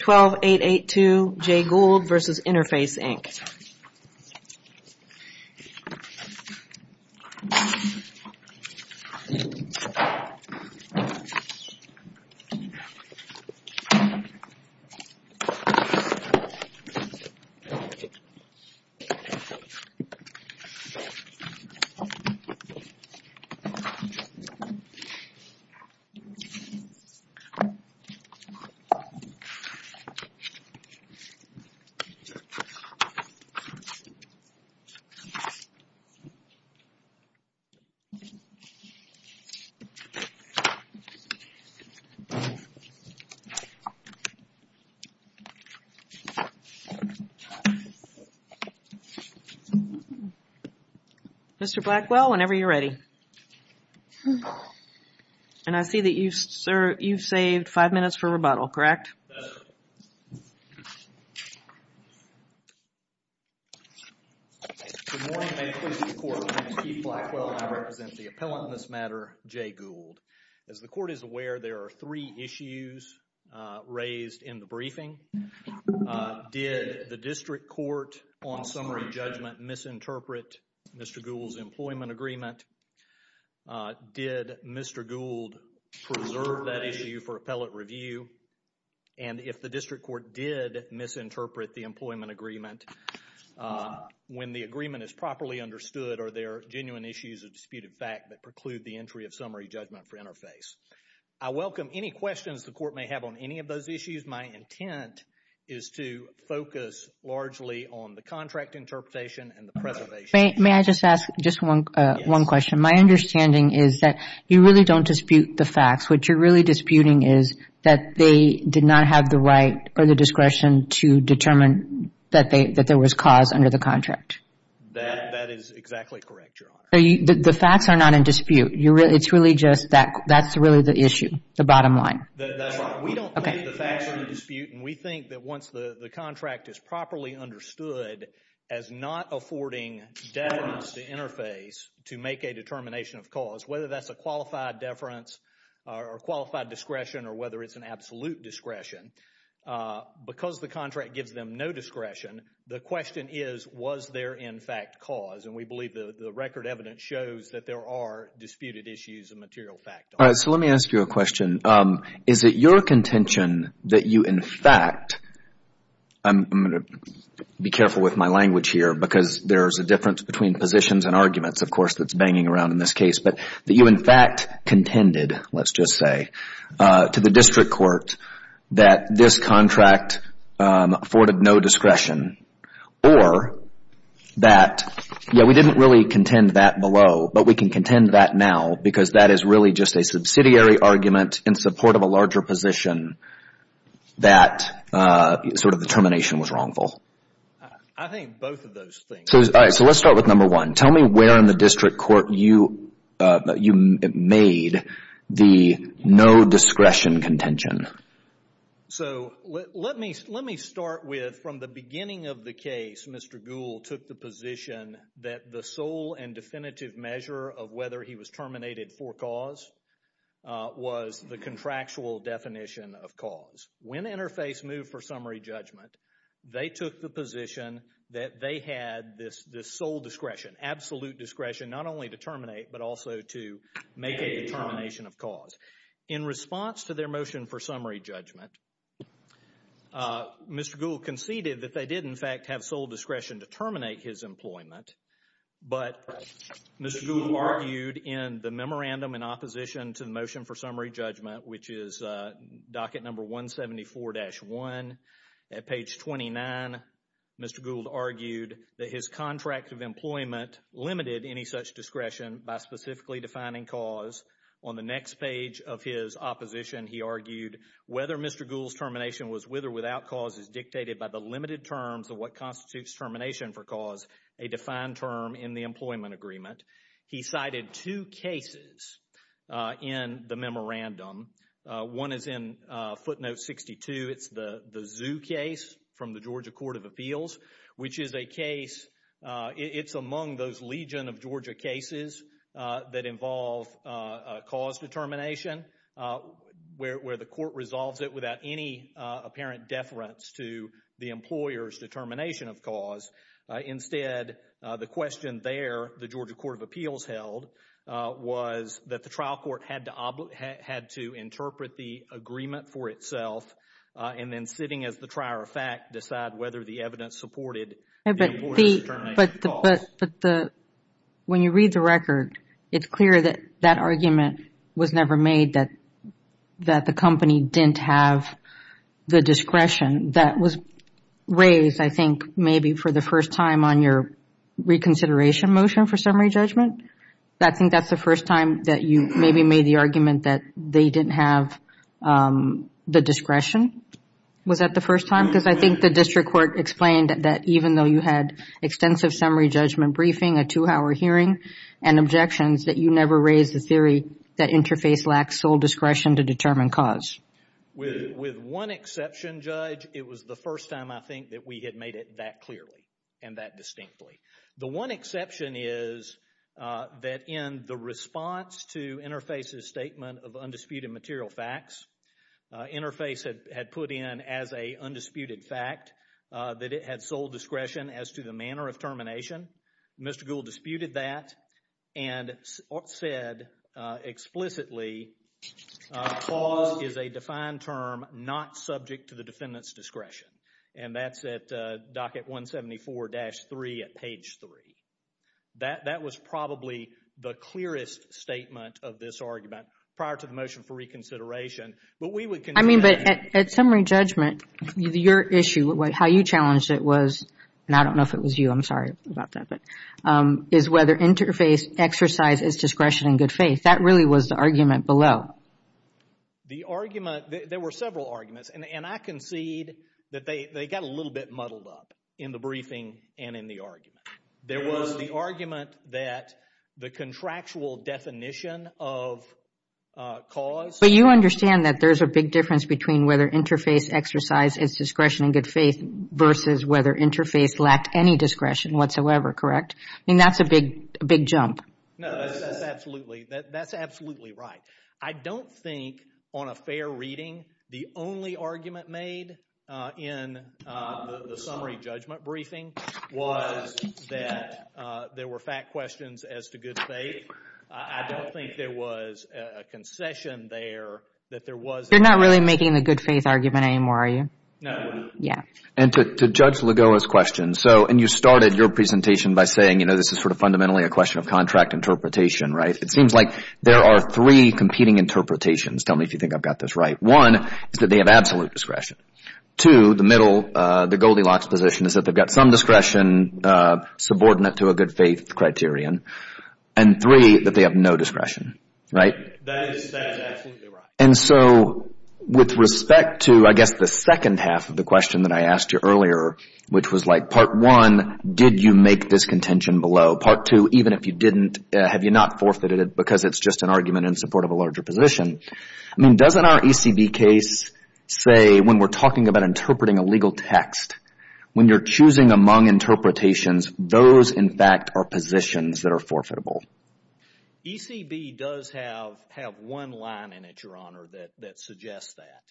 12882 J Gould v. Interface, Inc. Mr. Blackwell, whenever you're ready. And I see that you've saved five minutes for rebuttal, correct? Yes, sir. Good morning. May it please the court, my name is Keith Blackwell and I represent the appellant in this matter, J Gould. As the court is aware, there are three issues raised in the briefing. Did the district court on summary judgment misinterpret Mr. Gould's employment agreement? Did Mr. Gould preserve that issue for appellate review? And if the district court did misinterpret the employment agreement, when the agreement is properly understood, are there genuine issues of disputed fact that preclude the entry of summary judgment for Interface? I welcome any questions the court may have on any of those issues. My intent is to focus largely on the contract interpretation and the preservation. May I just ask just one question? My understanding is that you really don't dispute the facts. What you're really disputing is that they did not have the right or the discretion to determine that there was cause under the contract. That is exactly correct, Your Honor. The facts are not in dispute. It's really just that that's really the issue, the bottom line. That's right. We don't believe the facts are in dispute and we think that once the contract is properly understood as not affording deference to Interface to make a determination of cause, whether that's a qualified deference or qualified discretion or whether it's an absolute discretion, because the contract gives them no discretion, the question is, was there in fact cause? And we believe the record evidence shows that there are disputed issues of material fact. All right. So let me ask you a question. Is it your contention that you in fact, I'm going to be careful with my language here because there's a difference between positions and arguments, of course, that's banging around in this case, but that you in fact contended, let's just say, to the district court that this contract afforded no discretion or that, yeah, we didn't really contend that below, but we can contend that now because that is really just a subsidiary argument in support of a larger position that sort of the termination was wrongful? I think both of those things. All right. So let's start with number one. Tell me where in the district court you made the no discretion contention. So let me start with, from the beginning of the case, Mr. Gould took the position that the sole and definitive measure of whether he was terminated for cause was the contractual definition of cause. When Interface moved for summary judgment, they took the position that they had this sole discretion, absolute discretion, not only to terminate, but also to make a determination of cause. In response to their motion for summary judgment, Mr. Gould conceded that they did in fact have sole discretion to terminate his employment, but Mr. Gould argued in the memorandum in opposition to the motion for summary judgment, which is docket number 174-1, at page 29, Mr. Gould argued that his contract of employment limited any such discretion by specifically defining cause. On the next page of his opposition, he argued whether Mr. Gould's termination was with or without cause is dictated by the limited terms of what constitutes termination for cause, a defined term in the employment agreement. He cited two cases in the memorandum. One is in footnote 62. It's the Zoo case from the Georgia Court of Appeals, which is a case, it's among those legion of Georgia cases that involve cause determination, where the court resolves it without any apparent deference to the employer's determination of cause. Instead, the question there the Georgia Court of Appeals held was that the trial court had to interpret the agreement for itself and then sitting as the trier of fact, decide whether the evidence supported the employer's determination of cause. When you read the record, it's clear that that argument was never made that the company didn't have the discretion. That was raised, I think, maybe for the first time on your reconsideration motion for summary judgment. I think that's the first time that you maybe made the argument that they didn't have the Was that the first time? Because I think the district court explained that even though you had extensive summary judgment briefing, a two-hour hearing, and objections, that you never raised the theory that Interface lacked sole discretion to determine cause. With one exception, Judge, it was the first time I think that we had made it that clearly and that distinctly. The one exception is that in the response to Interface's statement of undisputed material facts, Interface had put in as a undisputed fact that it had sole discretion as to the manner of termination. Mr. Gould disputed that and said explicitly, cause is a defined term not subject to the defendant's discretion. And that's at docket 174-3 at page 3. That was probably the clearest statement of this argument prior to the motion for reconsideration, but we would consider that. I mean, but at summary judgment, your issue, how you challenged it was, and I don't know if it was you, I'm sorry about that, but, is whether Interface exercised its discretion in good faith. That really was the argument below. The argument, there were several arguments, and I concede that they got a little bit muddled up in the briefing and in the argument. There was the argument that the contractual definition of cause. But you understand that there's a big difference between whether Interface exercised its discretion in good faith versus whether Interface lacked any discretion whatsoever, correct? I mean, that's a big, big jump. No, that's absolutely, that's absolutely right. I don't think on a fair reading, the only argument made in the summary judgment briefing was that there were fact questions as to good faith. I don't think there was a concession there that there was. You're not really making the good faith argument anymore, are you? No. Yeah. And to Judge Lagoa's question, so, and you started your presentation by saying, you know, this is sort of fundamentally a question of contract interpretation, right? It seems like there are three competing interpretations. Tell me if you think I've got this right. One is that they have absolute discretion. Two, the middle, the Goldilocks position is that they've got some discretion subordinate to a good faith criterion. And three, that they have no discretion, right? That's absolutely right. And so, with respect to, I guess, the second half of the question that I asked you earlier, which was like, part one, did you make this contention below? Part two, even if you didn't, have you not forfeited it because it's just an argument in support of a larger position? I mean, doesn't our ECB case say, when we're talking about interpreting a legal text, when you're choosing among interpretations, those, in fact, are positions that are forfeitable? ECB does have one line in it, Your Honor, that suggests that.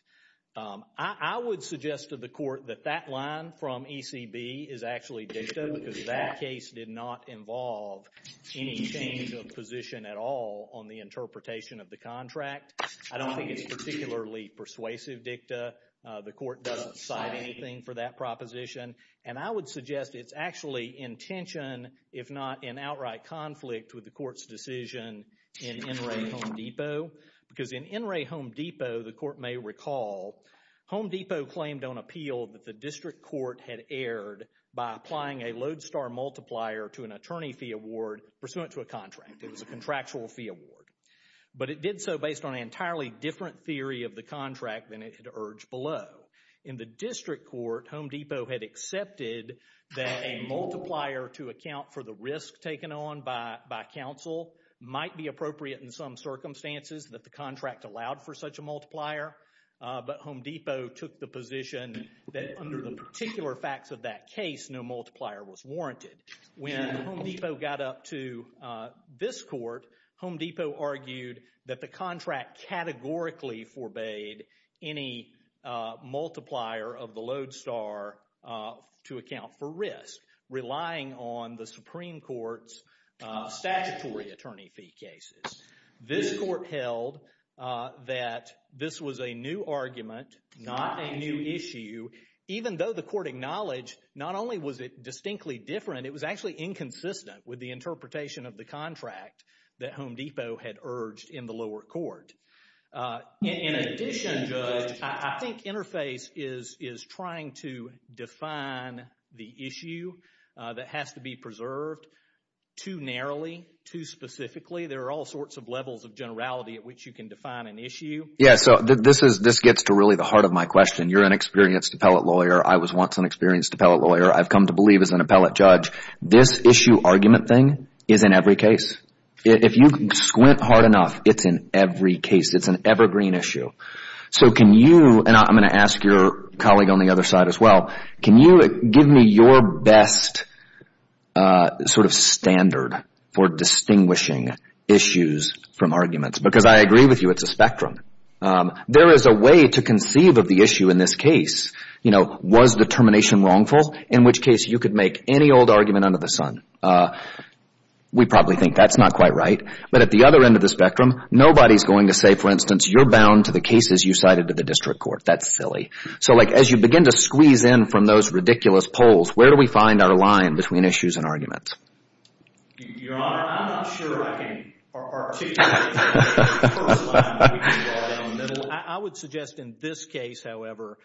I would suggest to the court that that line from ECB is actually dicta because that case did not involve any change of position at all on the interpretation of the contract. I don't think it's particularly persuasive dicta. The court doesn't cite anything for that proposition. And I would suggest it's actually in tension, if not in outright conflict, with the court's decision in NRA Home Depot. Because in NRA Home Depot, the court may recall, Home Depot claimed on appeal that the district court had erred by applying a lodestar multiplier to an attorney fee award pursuant to a contract. It was a contractual fee award. But it did so based on an entirely different theory of the contract than it had urged below. In the district court, Home Depot had accepted that a multiplier to account for the risk taken on by counsel might be appropriate in some circumstances that the contract allowed for such a multiplier. But Home Depot took the position that under the particular facts of that case, no multiplier was warranted. When Home Depot got up to this court, Home Depot argued that the contract categorically forbade any multiplier of the lodestar to account for risk, relying on the Supreme Court's statutory attorney fee cases. This court held that this was a new argument, not a new issue, even though the court acknowledged not only was it distinctly different, it was actually inconsistent with the interpretation of the contract that Home Depot had urged in the lower court. In addition, Judge, I think Interface is trying to define the issue that has to be preserved too narrowly, too specifically. There are all sorts of levels of generality at which you can define an issue. Yes. So this gets to really the heart of my question. You're an experienced appellate lawyer. I was once an experienced appellate lawyer. I've come to believe as an appellate judge. This issue argument thing is in every case. If you squint hard enough, it's in every case. It's an evergreen issue. So can you, and I'm going to ask your colleague on the other side as well, can you give me your best sort of standard for distinguishing issues from arguments? Because I agree with you, it's a spectrum. There is a way to conceive of the issue in this case. You know, was the termination wrongful? In which case, you could make any old argument under the sun. We probably think that's not quite right, but at the other end of the spectrum, nobody's going to say, for instance, you're bound to the cases you cited to the district court. That's silly. So as you begin to squeeze in from those ridiculous poles, where do we find our line between issues and arguments? Your Honor, I'm not sure I can articulate the first line. I would suggest in this case, however,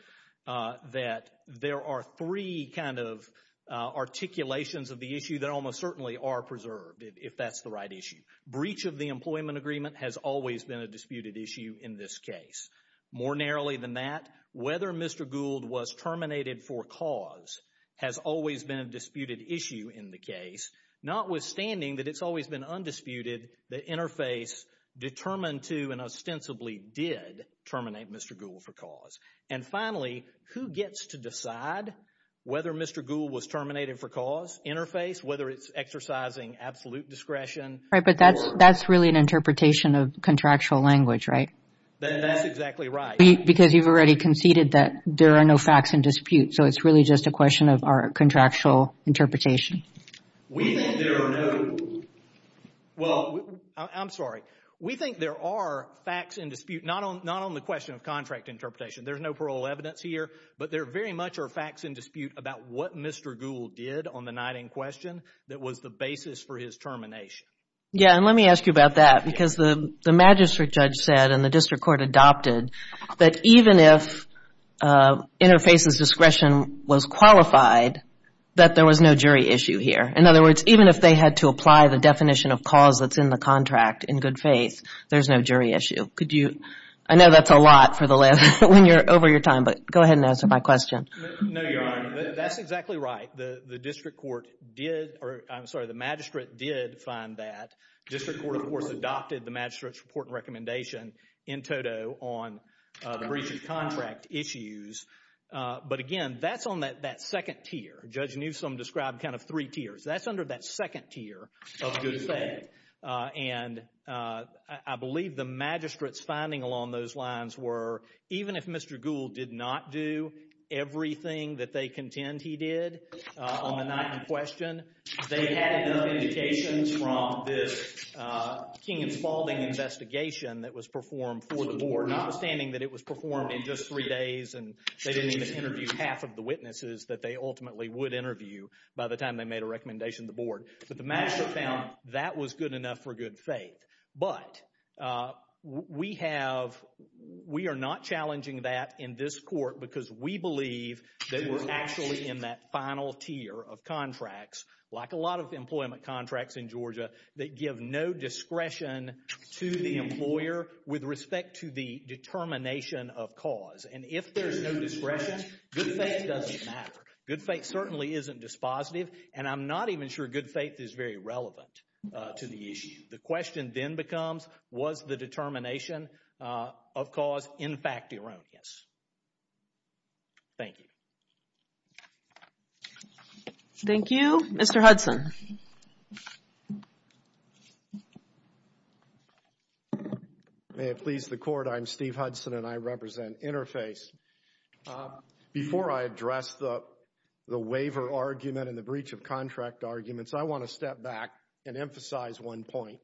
that there are three kind of articulations of the issue that almost certainly are preserved, if that's the right issue. Breach of the employment agreement has always been a disputed issue in this case. More narrowly than that, whether Mr. Gould was terminated for cause has always been a disputed issue in the case, notwithstanding that it's always been undisputed that interface determined to and ostensibly did terminate Mr. Gould for cause. And finally, who gets to decide whether Mr. Gould was terminated for cause, interface, whether it's exercising absolute discretion. Right, but that's really an interpretation of contractual language, right? That's exactly right. Because you've already conceded that there are no facts in dispute. So it's really just a question of our contractual interpretation. We think there are no... Well, I'm sorry. We think there are facts in dispute, not on the question of contract interpretation. There's no parole evidence here, but there very much are facts in dispute about what Mr. Gould did on the night in question that was the basis for his termination. Yeah, and let me ask you about that, because the magistrate judge said and the district court adopted, that even if interface's discretion was qualified, that there was no jury issue here. In other words, even if they had to apply the definition of cause that's in the contract in good faith, there's no jury issue. Could you... I know that's a lot for the last... when you're over your time, but go ahead and answer my question. No, you're right. That's exactly right. The district court did, or I'm sorry, the magistrate did find that. District court, of course, adopted the magistrate's report and recommendation in toto on the breach of contract issues, but again, that's on that second tier. Judge Newsom described kind of three tiers. That's under that second tier of good faith, and I believe the magistrate's finding along those lines were even if Mr. Gould did not do everything that they contend he did on the night in question, they had enough indications from this King and Spaulding investigation that was performed for the board, notwithstanding that it was performed in just three days and they didn't even interview half of the witnesses that they ultimately would interview by the time they made a recommendation to the board, but the magistrate found that was good enough for good faith, but we have... we are not challenging that in this court because we believe that we're actually in that final tier of contracts, like a lot of employment contracts in Georgia, that give no discretion to the employer with respect to the determination of cause, and if there's no discretion, good faith doesn't matter. Good faith certainly isn't dispositive, and I'm not even sure good faith is very relevant to the issue. The question then becomes, was the determination of cause in fact erroneous? Thank you. Thank you. Mr. Hudson. May it please the court, I'm Steve Hudson and I represent Interface. Before I address the waiver argument and the breach of contract arguments, I want to step back and emphasize one point.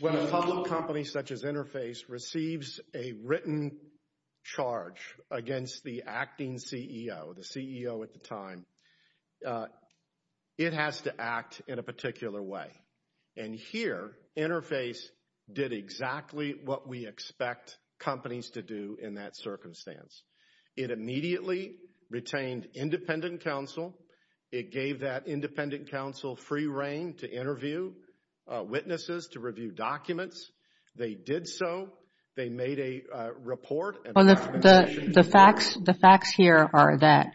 When a public company such as Interface receives a written charge against the acting CEO, the CEO at the time, it has to act in a particular way, and here Interface did exactly what we expect companies to do in that circumstance. It immediately retained independent counsel. It gave that independent counsel free reign to interview witnesses, to review documents. They did so. They made a report. The facts here are that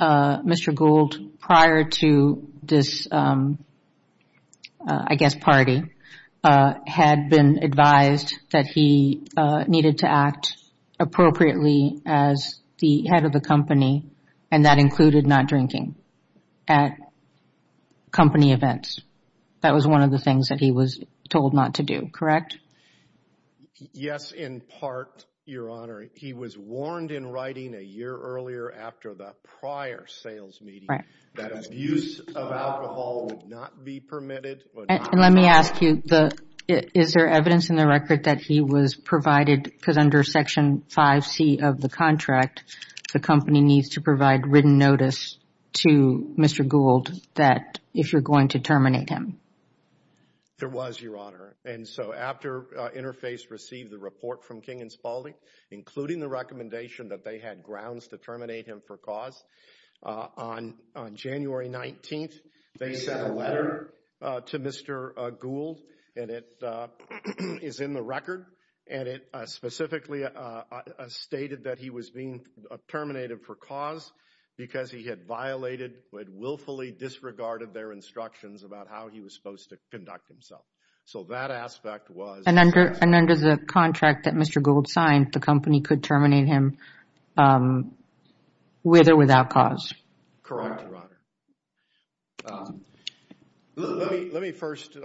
Mr. Gould, prior to this, I guess, party, had been advised that he needed to act appropriately as the head of the company, and that included not drinking at company events. That was one of the things that he was told not to do, correct? Yes, in part, Your Honor. He was warned in writing a year earlier after the prior sales meeting that abuse of alcohol would not be permitted. Let me ask you, is there evidence in the record that he was provided, because under Section 5C of the contract, the company needs to provide written notice to Mr. Gould that if you're going to terminate him? There was, Your Honor, and so after Interface received the report from King and Spaulding, including the recommendation that they had grounds to terminate him for cause, on January 19th, they sent a letter to Mr. Gould, and it is in the record, and it specifically stated that he was being terminated for cause because he had violated, had willfully disregarded their instructions about how he was supposed to conduct himself. So that aspect was... And under the contract that Mr. Gould signed, the company could terminate him with or without cause? Correct, Your Honor. Let me first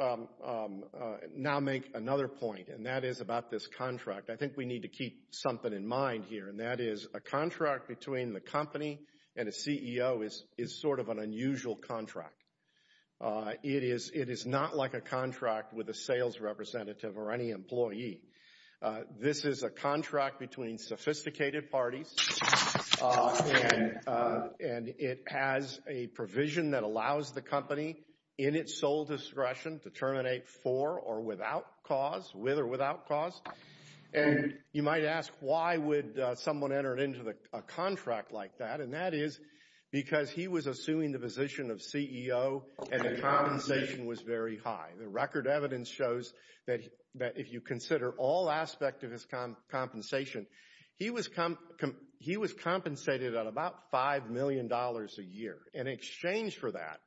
now make another point, and that is about this contract. I think we need to keep something in mind here, and that is a contract between the company and a CEO is sort of an unusual contract. It is not like a contract with a sales representative or any employee. This is a contract between sophisticated parties, and it has a provision that allows the company in its sole discretion to terminate for or without cause, with or without cause, and you might ask why would someone enter into a contract like that, and that is because he was assuming the position of CEO, and the compensation was very high. The record evidence shows that if you consider all aspects of his compensation, he was compensated at about $5 million a year. In exchange for that,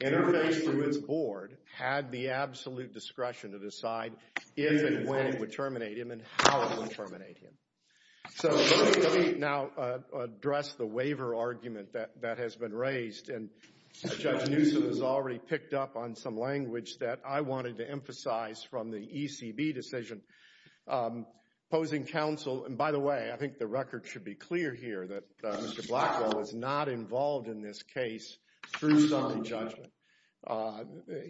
Interface, through its board, had the absolute discretion to decide if and when it would terminate him and how it would terminate him. So let me now address the waiver argument that has been raised, and Judge Newsom has already picked up on some language that I wanted to emphasize from the ECB decision, posing counsel, and by the way, I think the record should be clear here that Mr. Blackwell was not involved in this case through some judgment.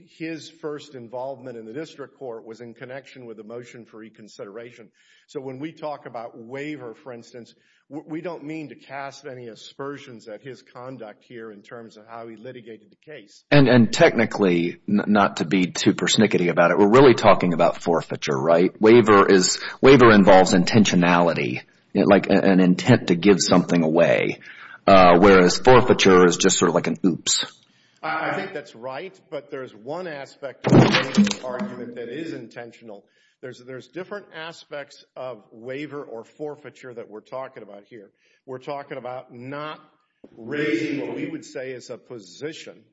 His first involvement in the district court was in connection with the motion for reconsideration, so when we talk about waiver, for instance, we don't mean to cast any aspersions at his conduct here in terms of how he litigated the case. And technically, not to be too persnickety about it, we're really talking about forfeiture, right? Waiver involves intentionality, like an intent to give something away, whereas forfeiture is just sort of like an oops. I think that's right, but there's one aspect of the waiver argument that is intentional. There's different aspects of waiver or forfeiture that we're talking about here. We're talking about not raising what we would say is a position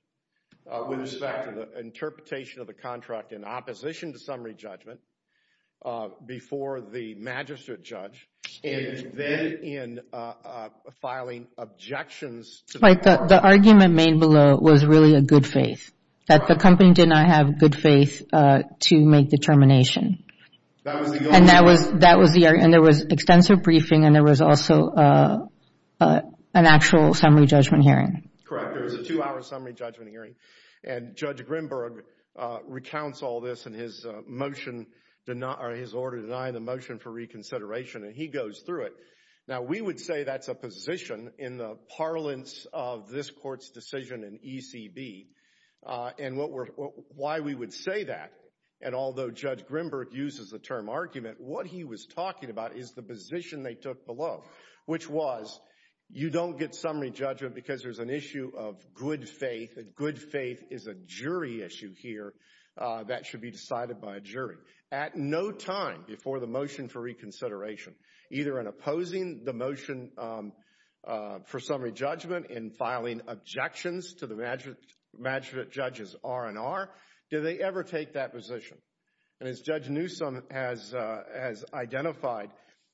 with respect to the interpretation of the contract in opposition to summary judgment before the magistrate judge, and then in filing objections to the court. The argument made below was really a good faith, that the company did not have good faith to make the termination. And that was the argument, and there was extensive briefing, and there was also an actual summary judgment hearing. Correct, there was a two-hour summary judgment hearing, and Judge Grimberg recounts all this in his order denying the motion for reconsideration, and he goes through it. Now, we would say that's a position in the parlance of this court's decision in ECB, and why we would say that, and although Judge Grimberg uses the term argument, what he was talking about is the position they took below, which was, you don't get summary judgment because there's an issue of good faith, and good faith is a jury issue here that should be decided by a jury. At no time before the motion for reconsideration, either in opposing the motion for summary judgment, judges R&R, did they ever take that position, and as Judge Newsom has identified,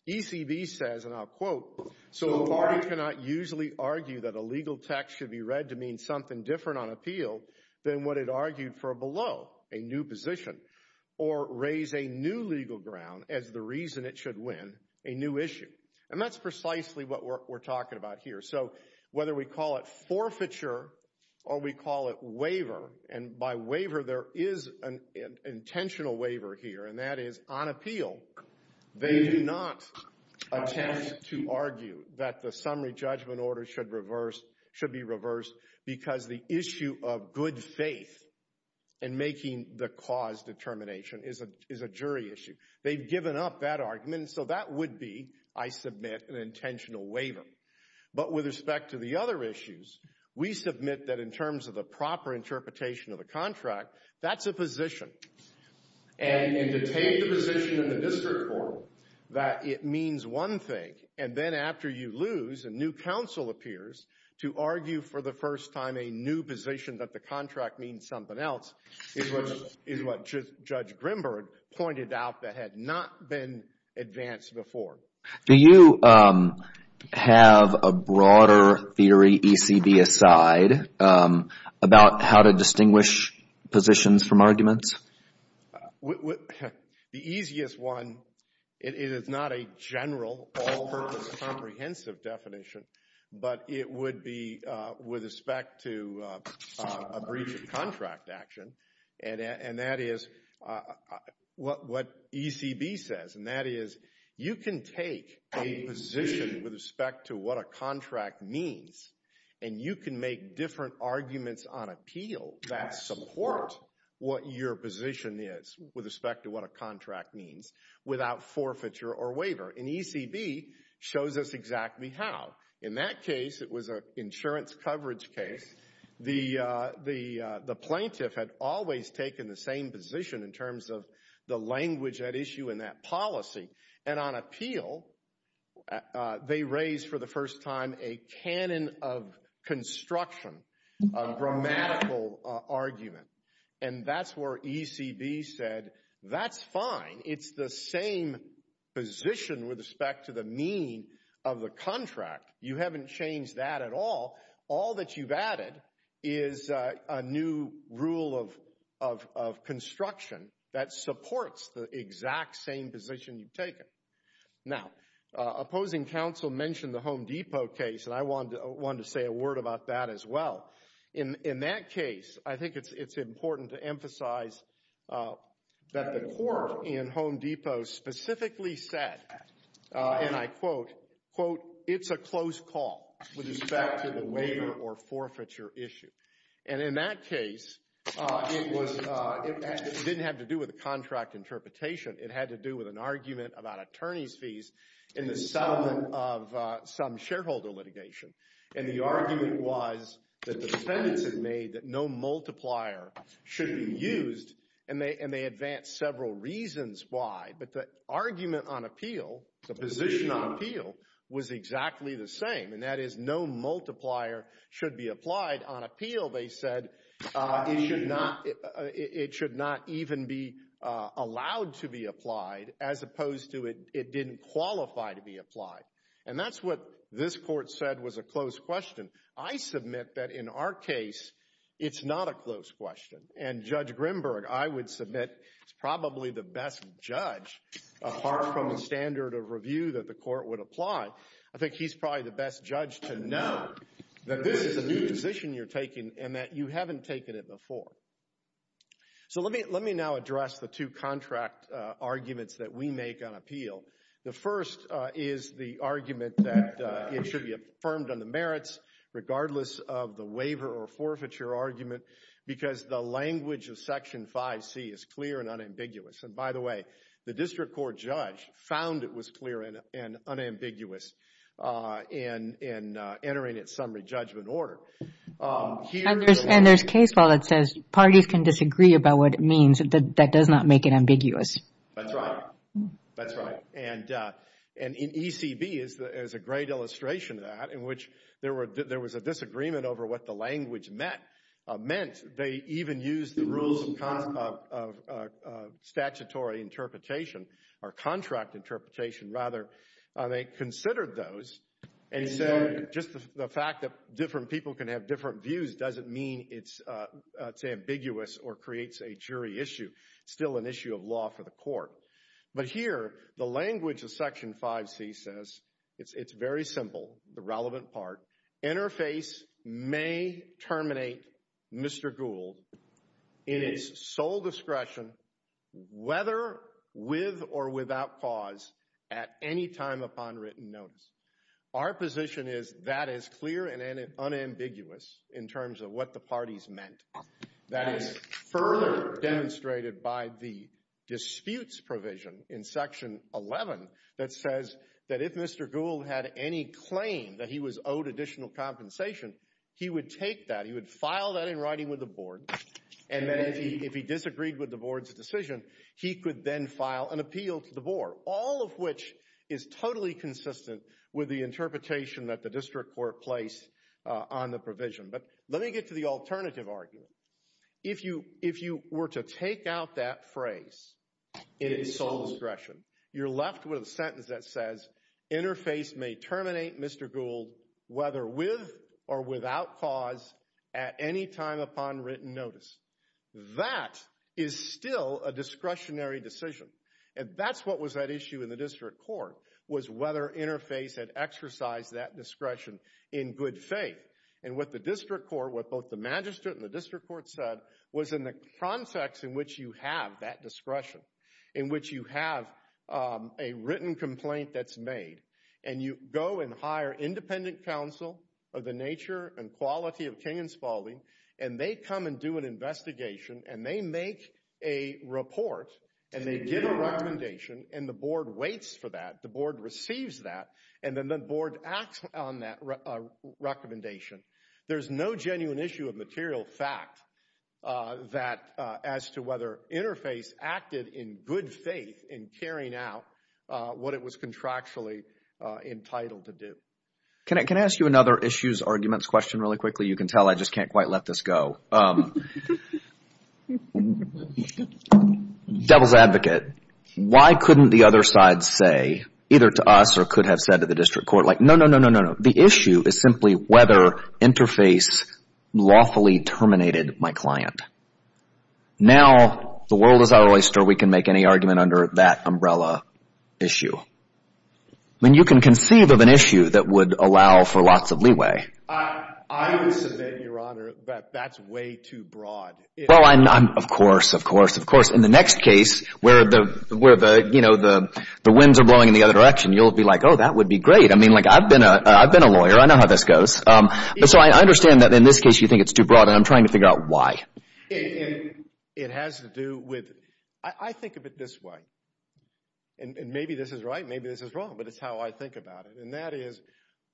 ECB says, and I'll quote, so the party cannot usually argue that a legal text should be read to mean something different on appeal than what it argued for below, a new position, or raise a new legal ground as the reason it should win a new issue. And that's precisely what we're talking about here. So whether we call it forfeiture or we call it waiver, and by waiver there is an intentional waiver here, and that is on appeal, they do not attempt to argue that the summary judgment order should reverse, should be reversed because the issue of good faith in making the cause determination is a jury issue. They've given up that argument, so that would be, I submit, an intentional waiver. But with respect to the other issues, we submit that in terms of the proper interpretation of the contract, that's a position. And to take the position in the district court that it means one thing, and then after you lose, a new counsel appears to argue for the first time a new position that the contract means something else, is what Judge Grimberg pointed out that had not been advanced before. Do you have a broader theory, ECB aside, about how to distinguish positions from arguments? The easiest one, it is not a general, comprehensive definition, but it would be with respect to a breach of contract action. And that is what ECB says, and that is, you can take a position with respect to what a contract means, and you can make different arguments on appeal that support what your position is with respect to what a contract means without forfeiture or waiver, and ECB shows us exactly how. In that case, it was an insurance coverage case, the plaintiff had always taken the same position in terms of the language at issue in that policy, and on appeal, they raised for the first time a canon of construction, a grammatical argument. And that's where ECB said, that's fine, it's the same position with respect to the mean of the contract, you haven't changed that at all, all that you've added is a new rule of construction that supports the exact same position you've taken. Now, opposing counsel mentioned the Home Depot case, and I wanted to say a word about that as well. In that case, I think it's important to emphasize that the court in Home Depot specifically said, and I quote, quote, it's a close call with respect to the waiver or forfeiture issue. And in that case, it didn't have to do with a contract interpretation, it had to do with an argument about attorney's fees in the settlement of some shareholder litigation. And the argument was that the defendants had made that no multiplier should be used, and they advanced several reasons why, but the argument on appeal, the position on appeal, was exactly the same, and that is no multiplier should be applied on appeal, they said, it should not even be allowed to be applied, as opposed to it didn't qualify to be applied. And that's what this court said was a close question. I submit that in our case, it's not a close question. And Judge Grimberg, I would submit, is probably the best judge, apart from the standard of review that the court would apply, I think he's probably the best judge to know that this is a new position you're taking, and that you haven't taken it before. So let me now address the two contract arguments that we make on appeal. The first is the argument that it should be affirmed on the merits, regardless of the waiver or forfeiture argument, because the language of Section 5C is clear and unambiguous. And by the way, the district court judge found it was clear and unambiguous in entering its summary judgment order. And there's case law that says parties can disagree about what it means, that does not make it ambiguous. That's right. That's right. And in ECB, there's a great illustration of that, in which there was a disagreement over what the language meant. They even used the rules of statutory interpretation, or contract interpretation, rather. They considered those and said, just the fact that different people can have different views doesn't mean it's ambiguous or creates a jury issue. It's still an issue of law for the court. But here, the language of Section 5C says, it's very simple, the relevant part, interface may terminate Mr. Gould in his sole discretion, whether with or without cause, at any time upon written notice. Our position is that is clear and unambiguous in terms of what the parties meant. That is further demonstrated by the disputes provision in Section 11 that says that if Mr. Gould had any claim that he was owed additional compensation, he would take that, he would file that in writing with the board, and then if he disagreed with the board's decision, he could then file an appeal to the board, all of which is totally consistent with the interpretation that the district court placed on the provision. But let me get to the alternative argument. If you were to take out that phrase, in his sole discretion, you're left with a sentence that says, interface may terminate Mr. Gould, whether with or without cause, at any time upon written notice. That is still a discretionary decision. And that's what was at issue in the district court, was whether interface had exercised that discretion in good faith. And what the district court, what both the magistrate and the district court said, was in the context in which you have that discretion, in which you have a written complaint that's made, and you go and hire independent counsel of the nature and quality of King and Spaulding, and they come and do an investigation, and they make a report, and they give a recommendation, and the board waits for that, the board receives that, and then the board acts on that recommendation. There's no genuine issue of material fact that, as to whether interface acted in good faith in carrying out what it was contractually entitled to do. Can I ask you another issues, arguments question really quickly? You can tell I just can't quite let this go. Devil's advocate, why couldn't the other side say, either to us or could have said to the board, interface lawfully terminated my client. Now the world is our oyster, we can make any argument under that umbrella issue. I mean, you can conceive of an issue that would allow for lots of leeway. I would submit, Your Honor, that that's way too broad. Well, of course, of course, of course. In the next case, where the winds are blowing in the other direction, you'll be like, oh, that would be great. I mean, I've been a lawyer. I know how this goes. So I understand that, in this case, you think it's too broad, and I'm trying to figure out why. It has to do with, I think of it this way, and maybe this is right, maybe this is wrong, but it's how I think about it, and that is,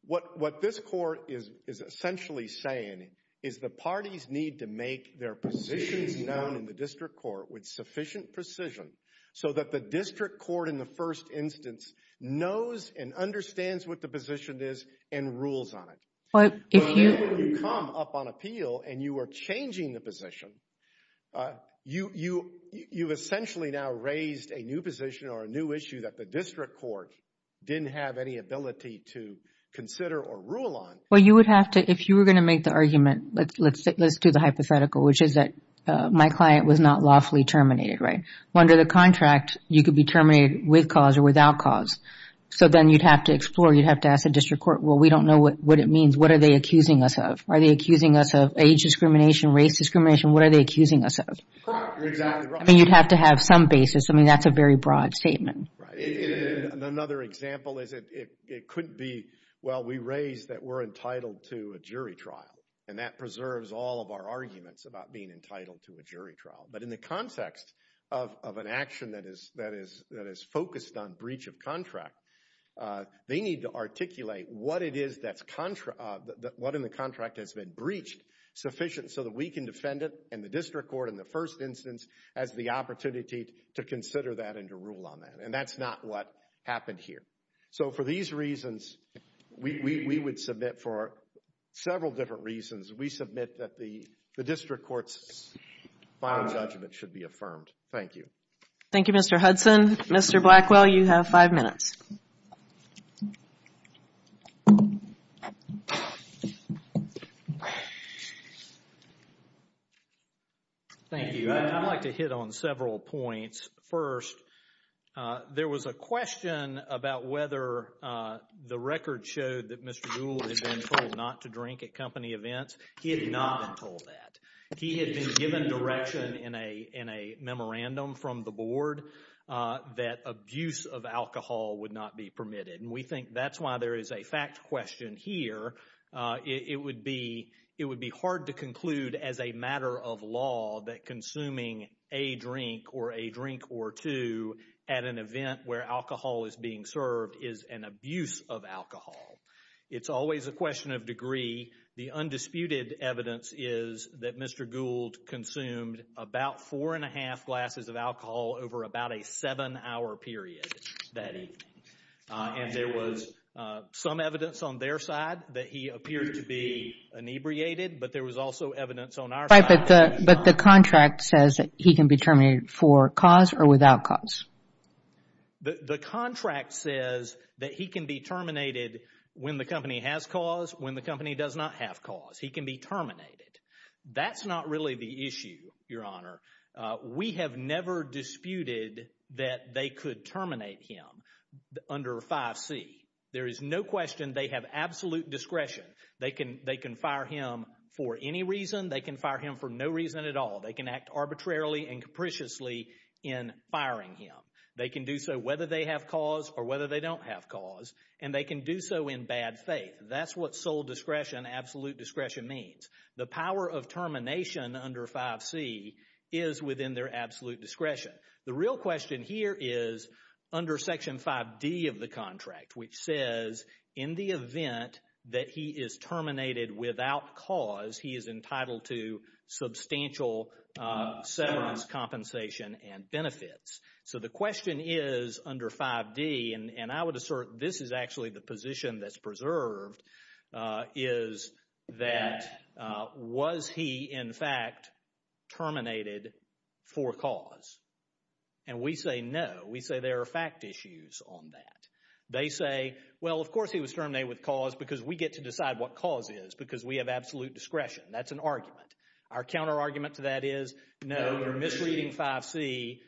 what this court is essentially saying is the parties need to make their positions known in the district court with sufficient precision so that the district court, in the first instance, knows and understands what the position is and rules on it. If you come up on appeal and you are changing the position, you've essentially now raised a new position or a new issue that the district court didn't have any ability to consider or rule on. Well, you would have to, if you were going to make the argument, let's do the hypothetical, which is that my client was not lawfully terminated, right? Well, under the contract, you could be terminated with cause or without cause. So then you'd have to explore, you'd have to ask the district court, well, we don't know what it means, what are they accusing us of? Are they accusing us of age discrimination, race discrimination, what are they accusing us of? Correct. Exactly right. I mean, you'd have to have some basis. I mean, that's a very broad statement. Right. Another example is it couldn't be, well, we raised that we're entitled to a jury trial, and that preserves all of our arguments about being entitled to a jury trial, but in the context of an action that is focused on breach of contract, they need to articulate what it is that's, what in the contract has been breached sufficient so that we can defend it and the district court in the first instance has the opportunity to consider that and to rule on that. And that's not what happened here. So for these reasons, we would submit for several different reasons, we submit that the district court's final judgment should be affirmed. Thank you. Thank you, Mr. Hudson. Mr. Blackwell, you have five minutes. Thank you. I'd like to hit on several points. First, there was a question about whether the record showed that Mr. Gould had been told not to drink at company events. He had not been told that. He had been given direction in a memorandum from the board that abuse of alcohol would not be permitted. And we think that's why there is a fact question here. It would be hard to conclude as a matter of law that consuming a drink or a drink or two at an event where alcohol is being served is an abuse of alcohol. It's always a question of degree. The undisputed evidence is that Mr. Gould consumed about four and a half glasses of alcohol over about a seven hour period that evening. And there was some evidence on their side that he appeared to be inebriated, but there was also evidence on our side. But the contract says that he can be terminated for cause or without cause. The contract says that he can be terminated when the company has cause, when the company does not have cause. He can be terminated. That's not really the issue, Your Honor. We have never disputed that they could terminate him under 5C. There is no question they have absolute discretion. They can fire him for any reason. They can fire him for no reason at all. They can act arbitrarily and capriciously in firing him. They can do so whether they have cause or whether they don't have cause. And they can do so in bad faith. That's what sole discretion, absolute discretion means. The power of termination under 5C is within their absolute discretion. The real question here is under Section 5D of the contract, which says in the event that he is terminated without cause, he is entitled to substantial severance compensation and benefits. So the question is under 5D, and I would assert this is actually the position that's preserved is that was he in fact terminated for cause? And we say no. We say there are fact issues on that. They say, well, of course he was terminated with cause because we get to decide what cause is because we have absolute discretion. That's an argument. Our counter argument to that is, no, you're misreading 5C.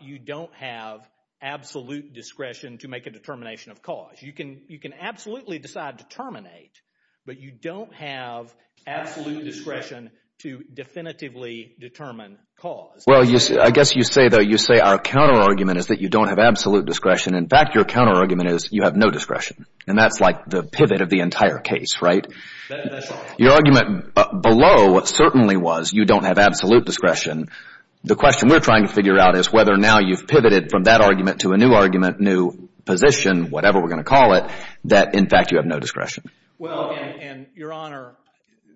You don't have absolute discretion to make a determination of cause. You can absolutely decide to terminate, but you don't have absolute discretion to definitively determine cause. Well, I guess you say, though, you say our counter argument is that you don't have absolute discretion. In fact, your counter argument is you have no discretion. And that's like the pivot of the entire case, right? Your argument below certainly was you don't have absolute discretion. The question we're trying to figure out is whether now you've pivoted from that argument to a new argument, new position, whatever we're going to call it, that in fact you have no discretion. Well, and your honor,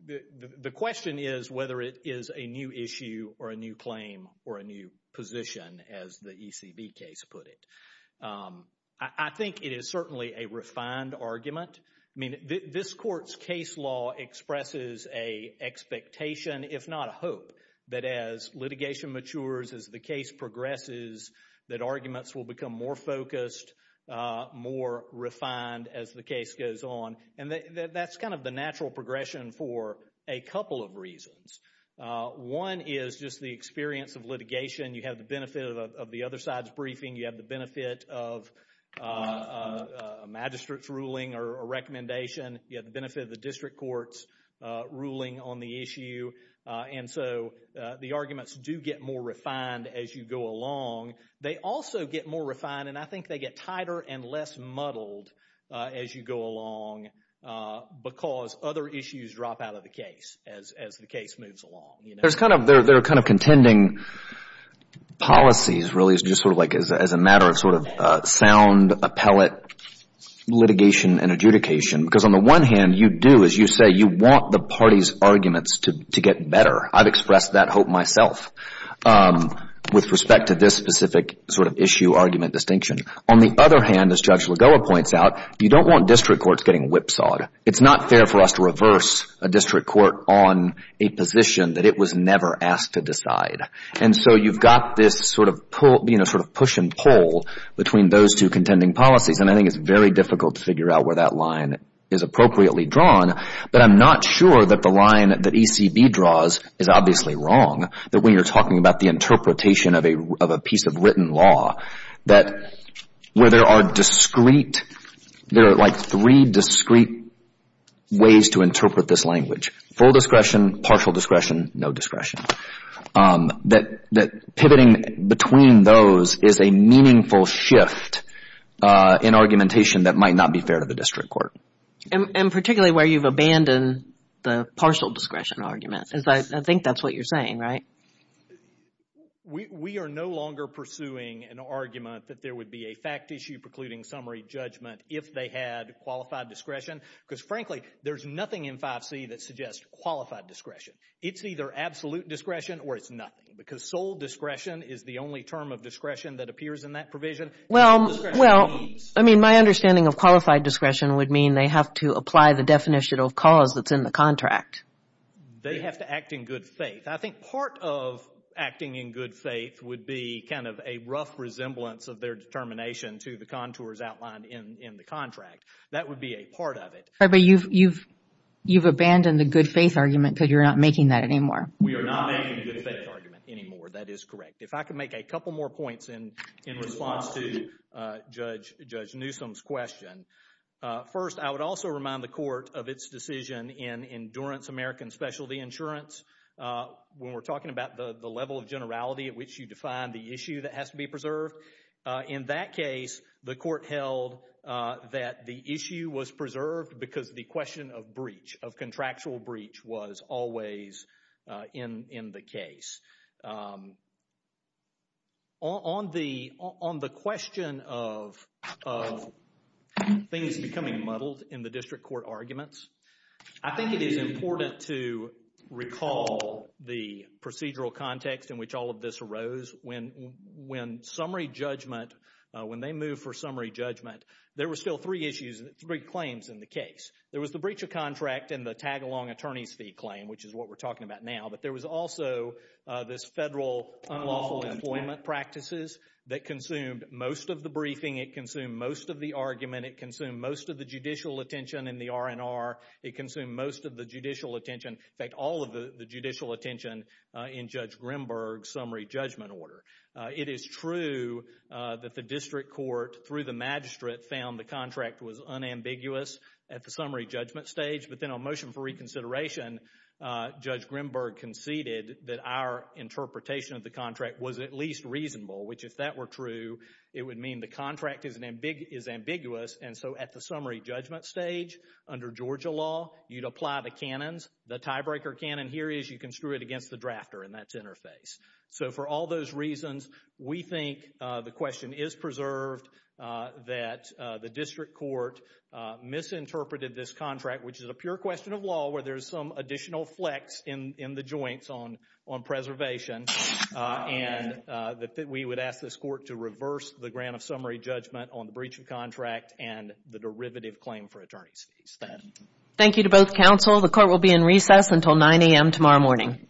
the question is whether it is a new issue or a new claim or a new position, as the ECB case put it. I think it is certainly a refined argument. This court's case law expresses a expectation, if not a hope, that as litigation matures, as the case progresses, that arguments will become more focused, more refined as the case goes on. And that's kind of the natural progression for a couple of reasons. One is just the experience of litigation. You have the benefit of the other side's briefing. You have the benefit of a magistrate's ruling or recommendation. You have the benefit of the district court's ruling on the issue. And so the arguments do get more refined as you go along. They also get more refined, and I think they get tighter and less muddled as you go along because other issues drop out of the case as the case moves along. There are kind of contending policies, really, as a matter of sound appellate litigation and adjudication. Because on the one hand, you do, as you say, you want the party's arguments to get better. I've expressed that hope myself with respect to this specific sort of issue argument distinction. On the other hand, as Judge Lagoa points out, you don't want district courts getting whipsawed. It's not fair for us to reverse a district court on a position that it was never asked to decide. And so you've got this sort of push and pull between those two contending policies, and I think it's very difficult to figure out where that line is appropriately drawn. But I'm not sure that the line that ECB draws is obviously wrong, that when you're talking about the interpretation of a piece of written law, that where there are discrete, there are like three discrete ways to interpret this language. Full discretion, partial discretion, no discretion. That pivoting between those is a meaningful shift in argumentation that might not be fair to the district court. And particularly where you've abandoned the partial discretion argument. I think that's what you're saying, right? We are no longer pursuing an argument that there would be a fact issue precluding summary judgment if they had qualified discretion. Because frankly, there's nothing in 5C that suggests qualified discretion. It's either absolute discretion or it's nothing. Because sole discretion is the only term of discretion that appears in that provision. Well, I mean, my understanding of qualified discretion would mean they have to apply the definition of cause that's in the contract. They have to act in good faith. I think part of acting in good faith would be kind of a rough resemblance of their determination to the contours outlined in the contract. That would be a part of it. Sorry, but you've abandoned the good faith argument because you're not making that anymore. We are not making the good faith argument anymore. That is correct. If I could make a couple more points in response to Judge Newsom's question. First, I would also remind the court of its decision in Endurance American Specialty Insurance. When we're talking about the level of generality at which you define the issue that has to be preserved. In that case, the court held that the issue was preserved because the question of breach, of contractual breach, was always in the case. On the question of things becoming muddled in the district court arguments, I think it is important to recall the procedural context in which all of this arose. When summary judgment, when they moved for summary judgment, there were still three claims in the case. There was the breach of contract and the tag-along attorney's fee claim, which is what we're talking about now. But there was also this federal unlawful employment practices that consumed most of the briefing. It consumed most of the argument. It consumed most of the judicial attention in the R&R. It consumed most of the judicial attention, in fact, all of the judicial attention in Judge Grimberg's summary judgment order. It is true that the district court, through the magistrate, found the contract was unambiguous at the summary judgment stage. But then on motion for reconsideration, Judge Grimberg conceded that our interpretation of the contract was at least reasonable, which if that were true, it would mean the contract is ambiguous. At the summary judgment stage, under Georgia law, you'd apply the canons. The tiebreaker canon here is you can screw it against the drafter, and that's interface. So for all those reasons, we think the question is preserved, that the district court misinterpreted this contract, which is a pure question of law, where there's some additional flex in the joints on preservation, and that we would ask this court to reverse the grant of summary judgment on the breach of contract and the derivative claim for attorney's fees. Thank you to both counsel. The court will be in recess until 9 a.m. tomorrow morning.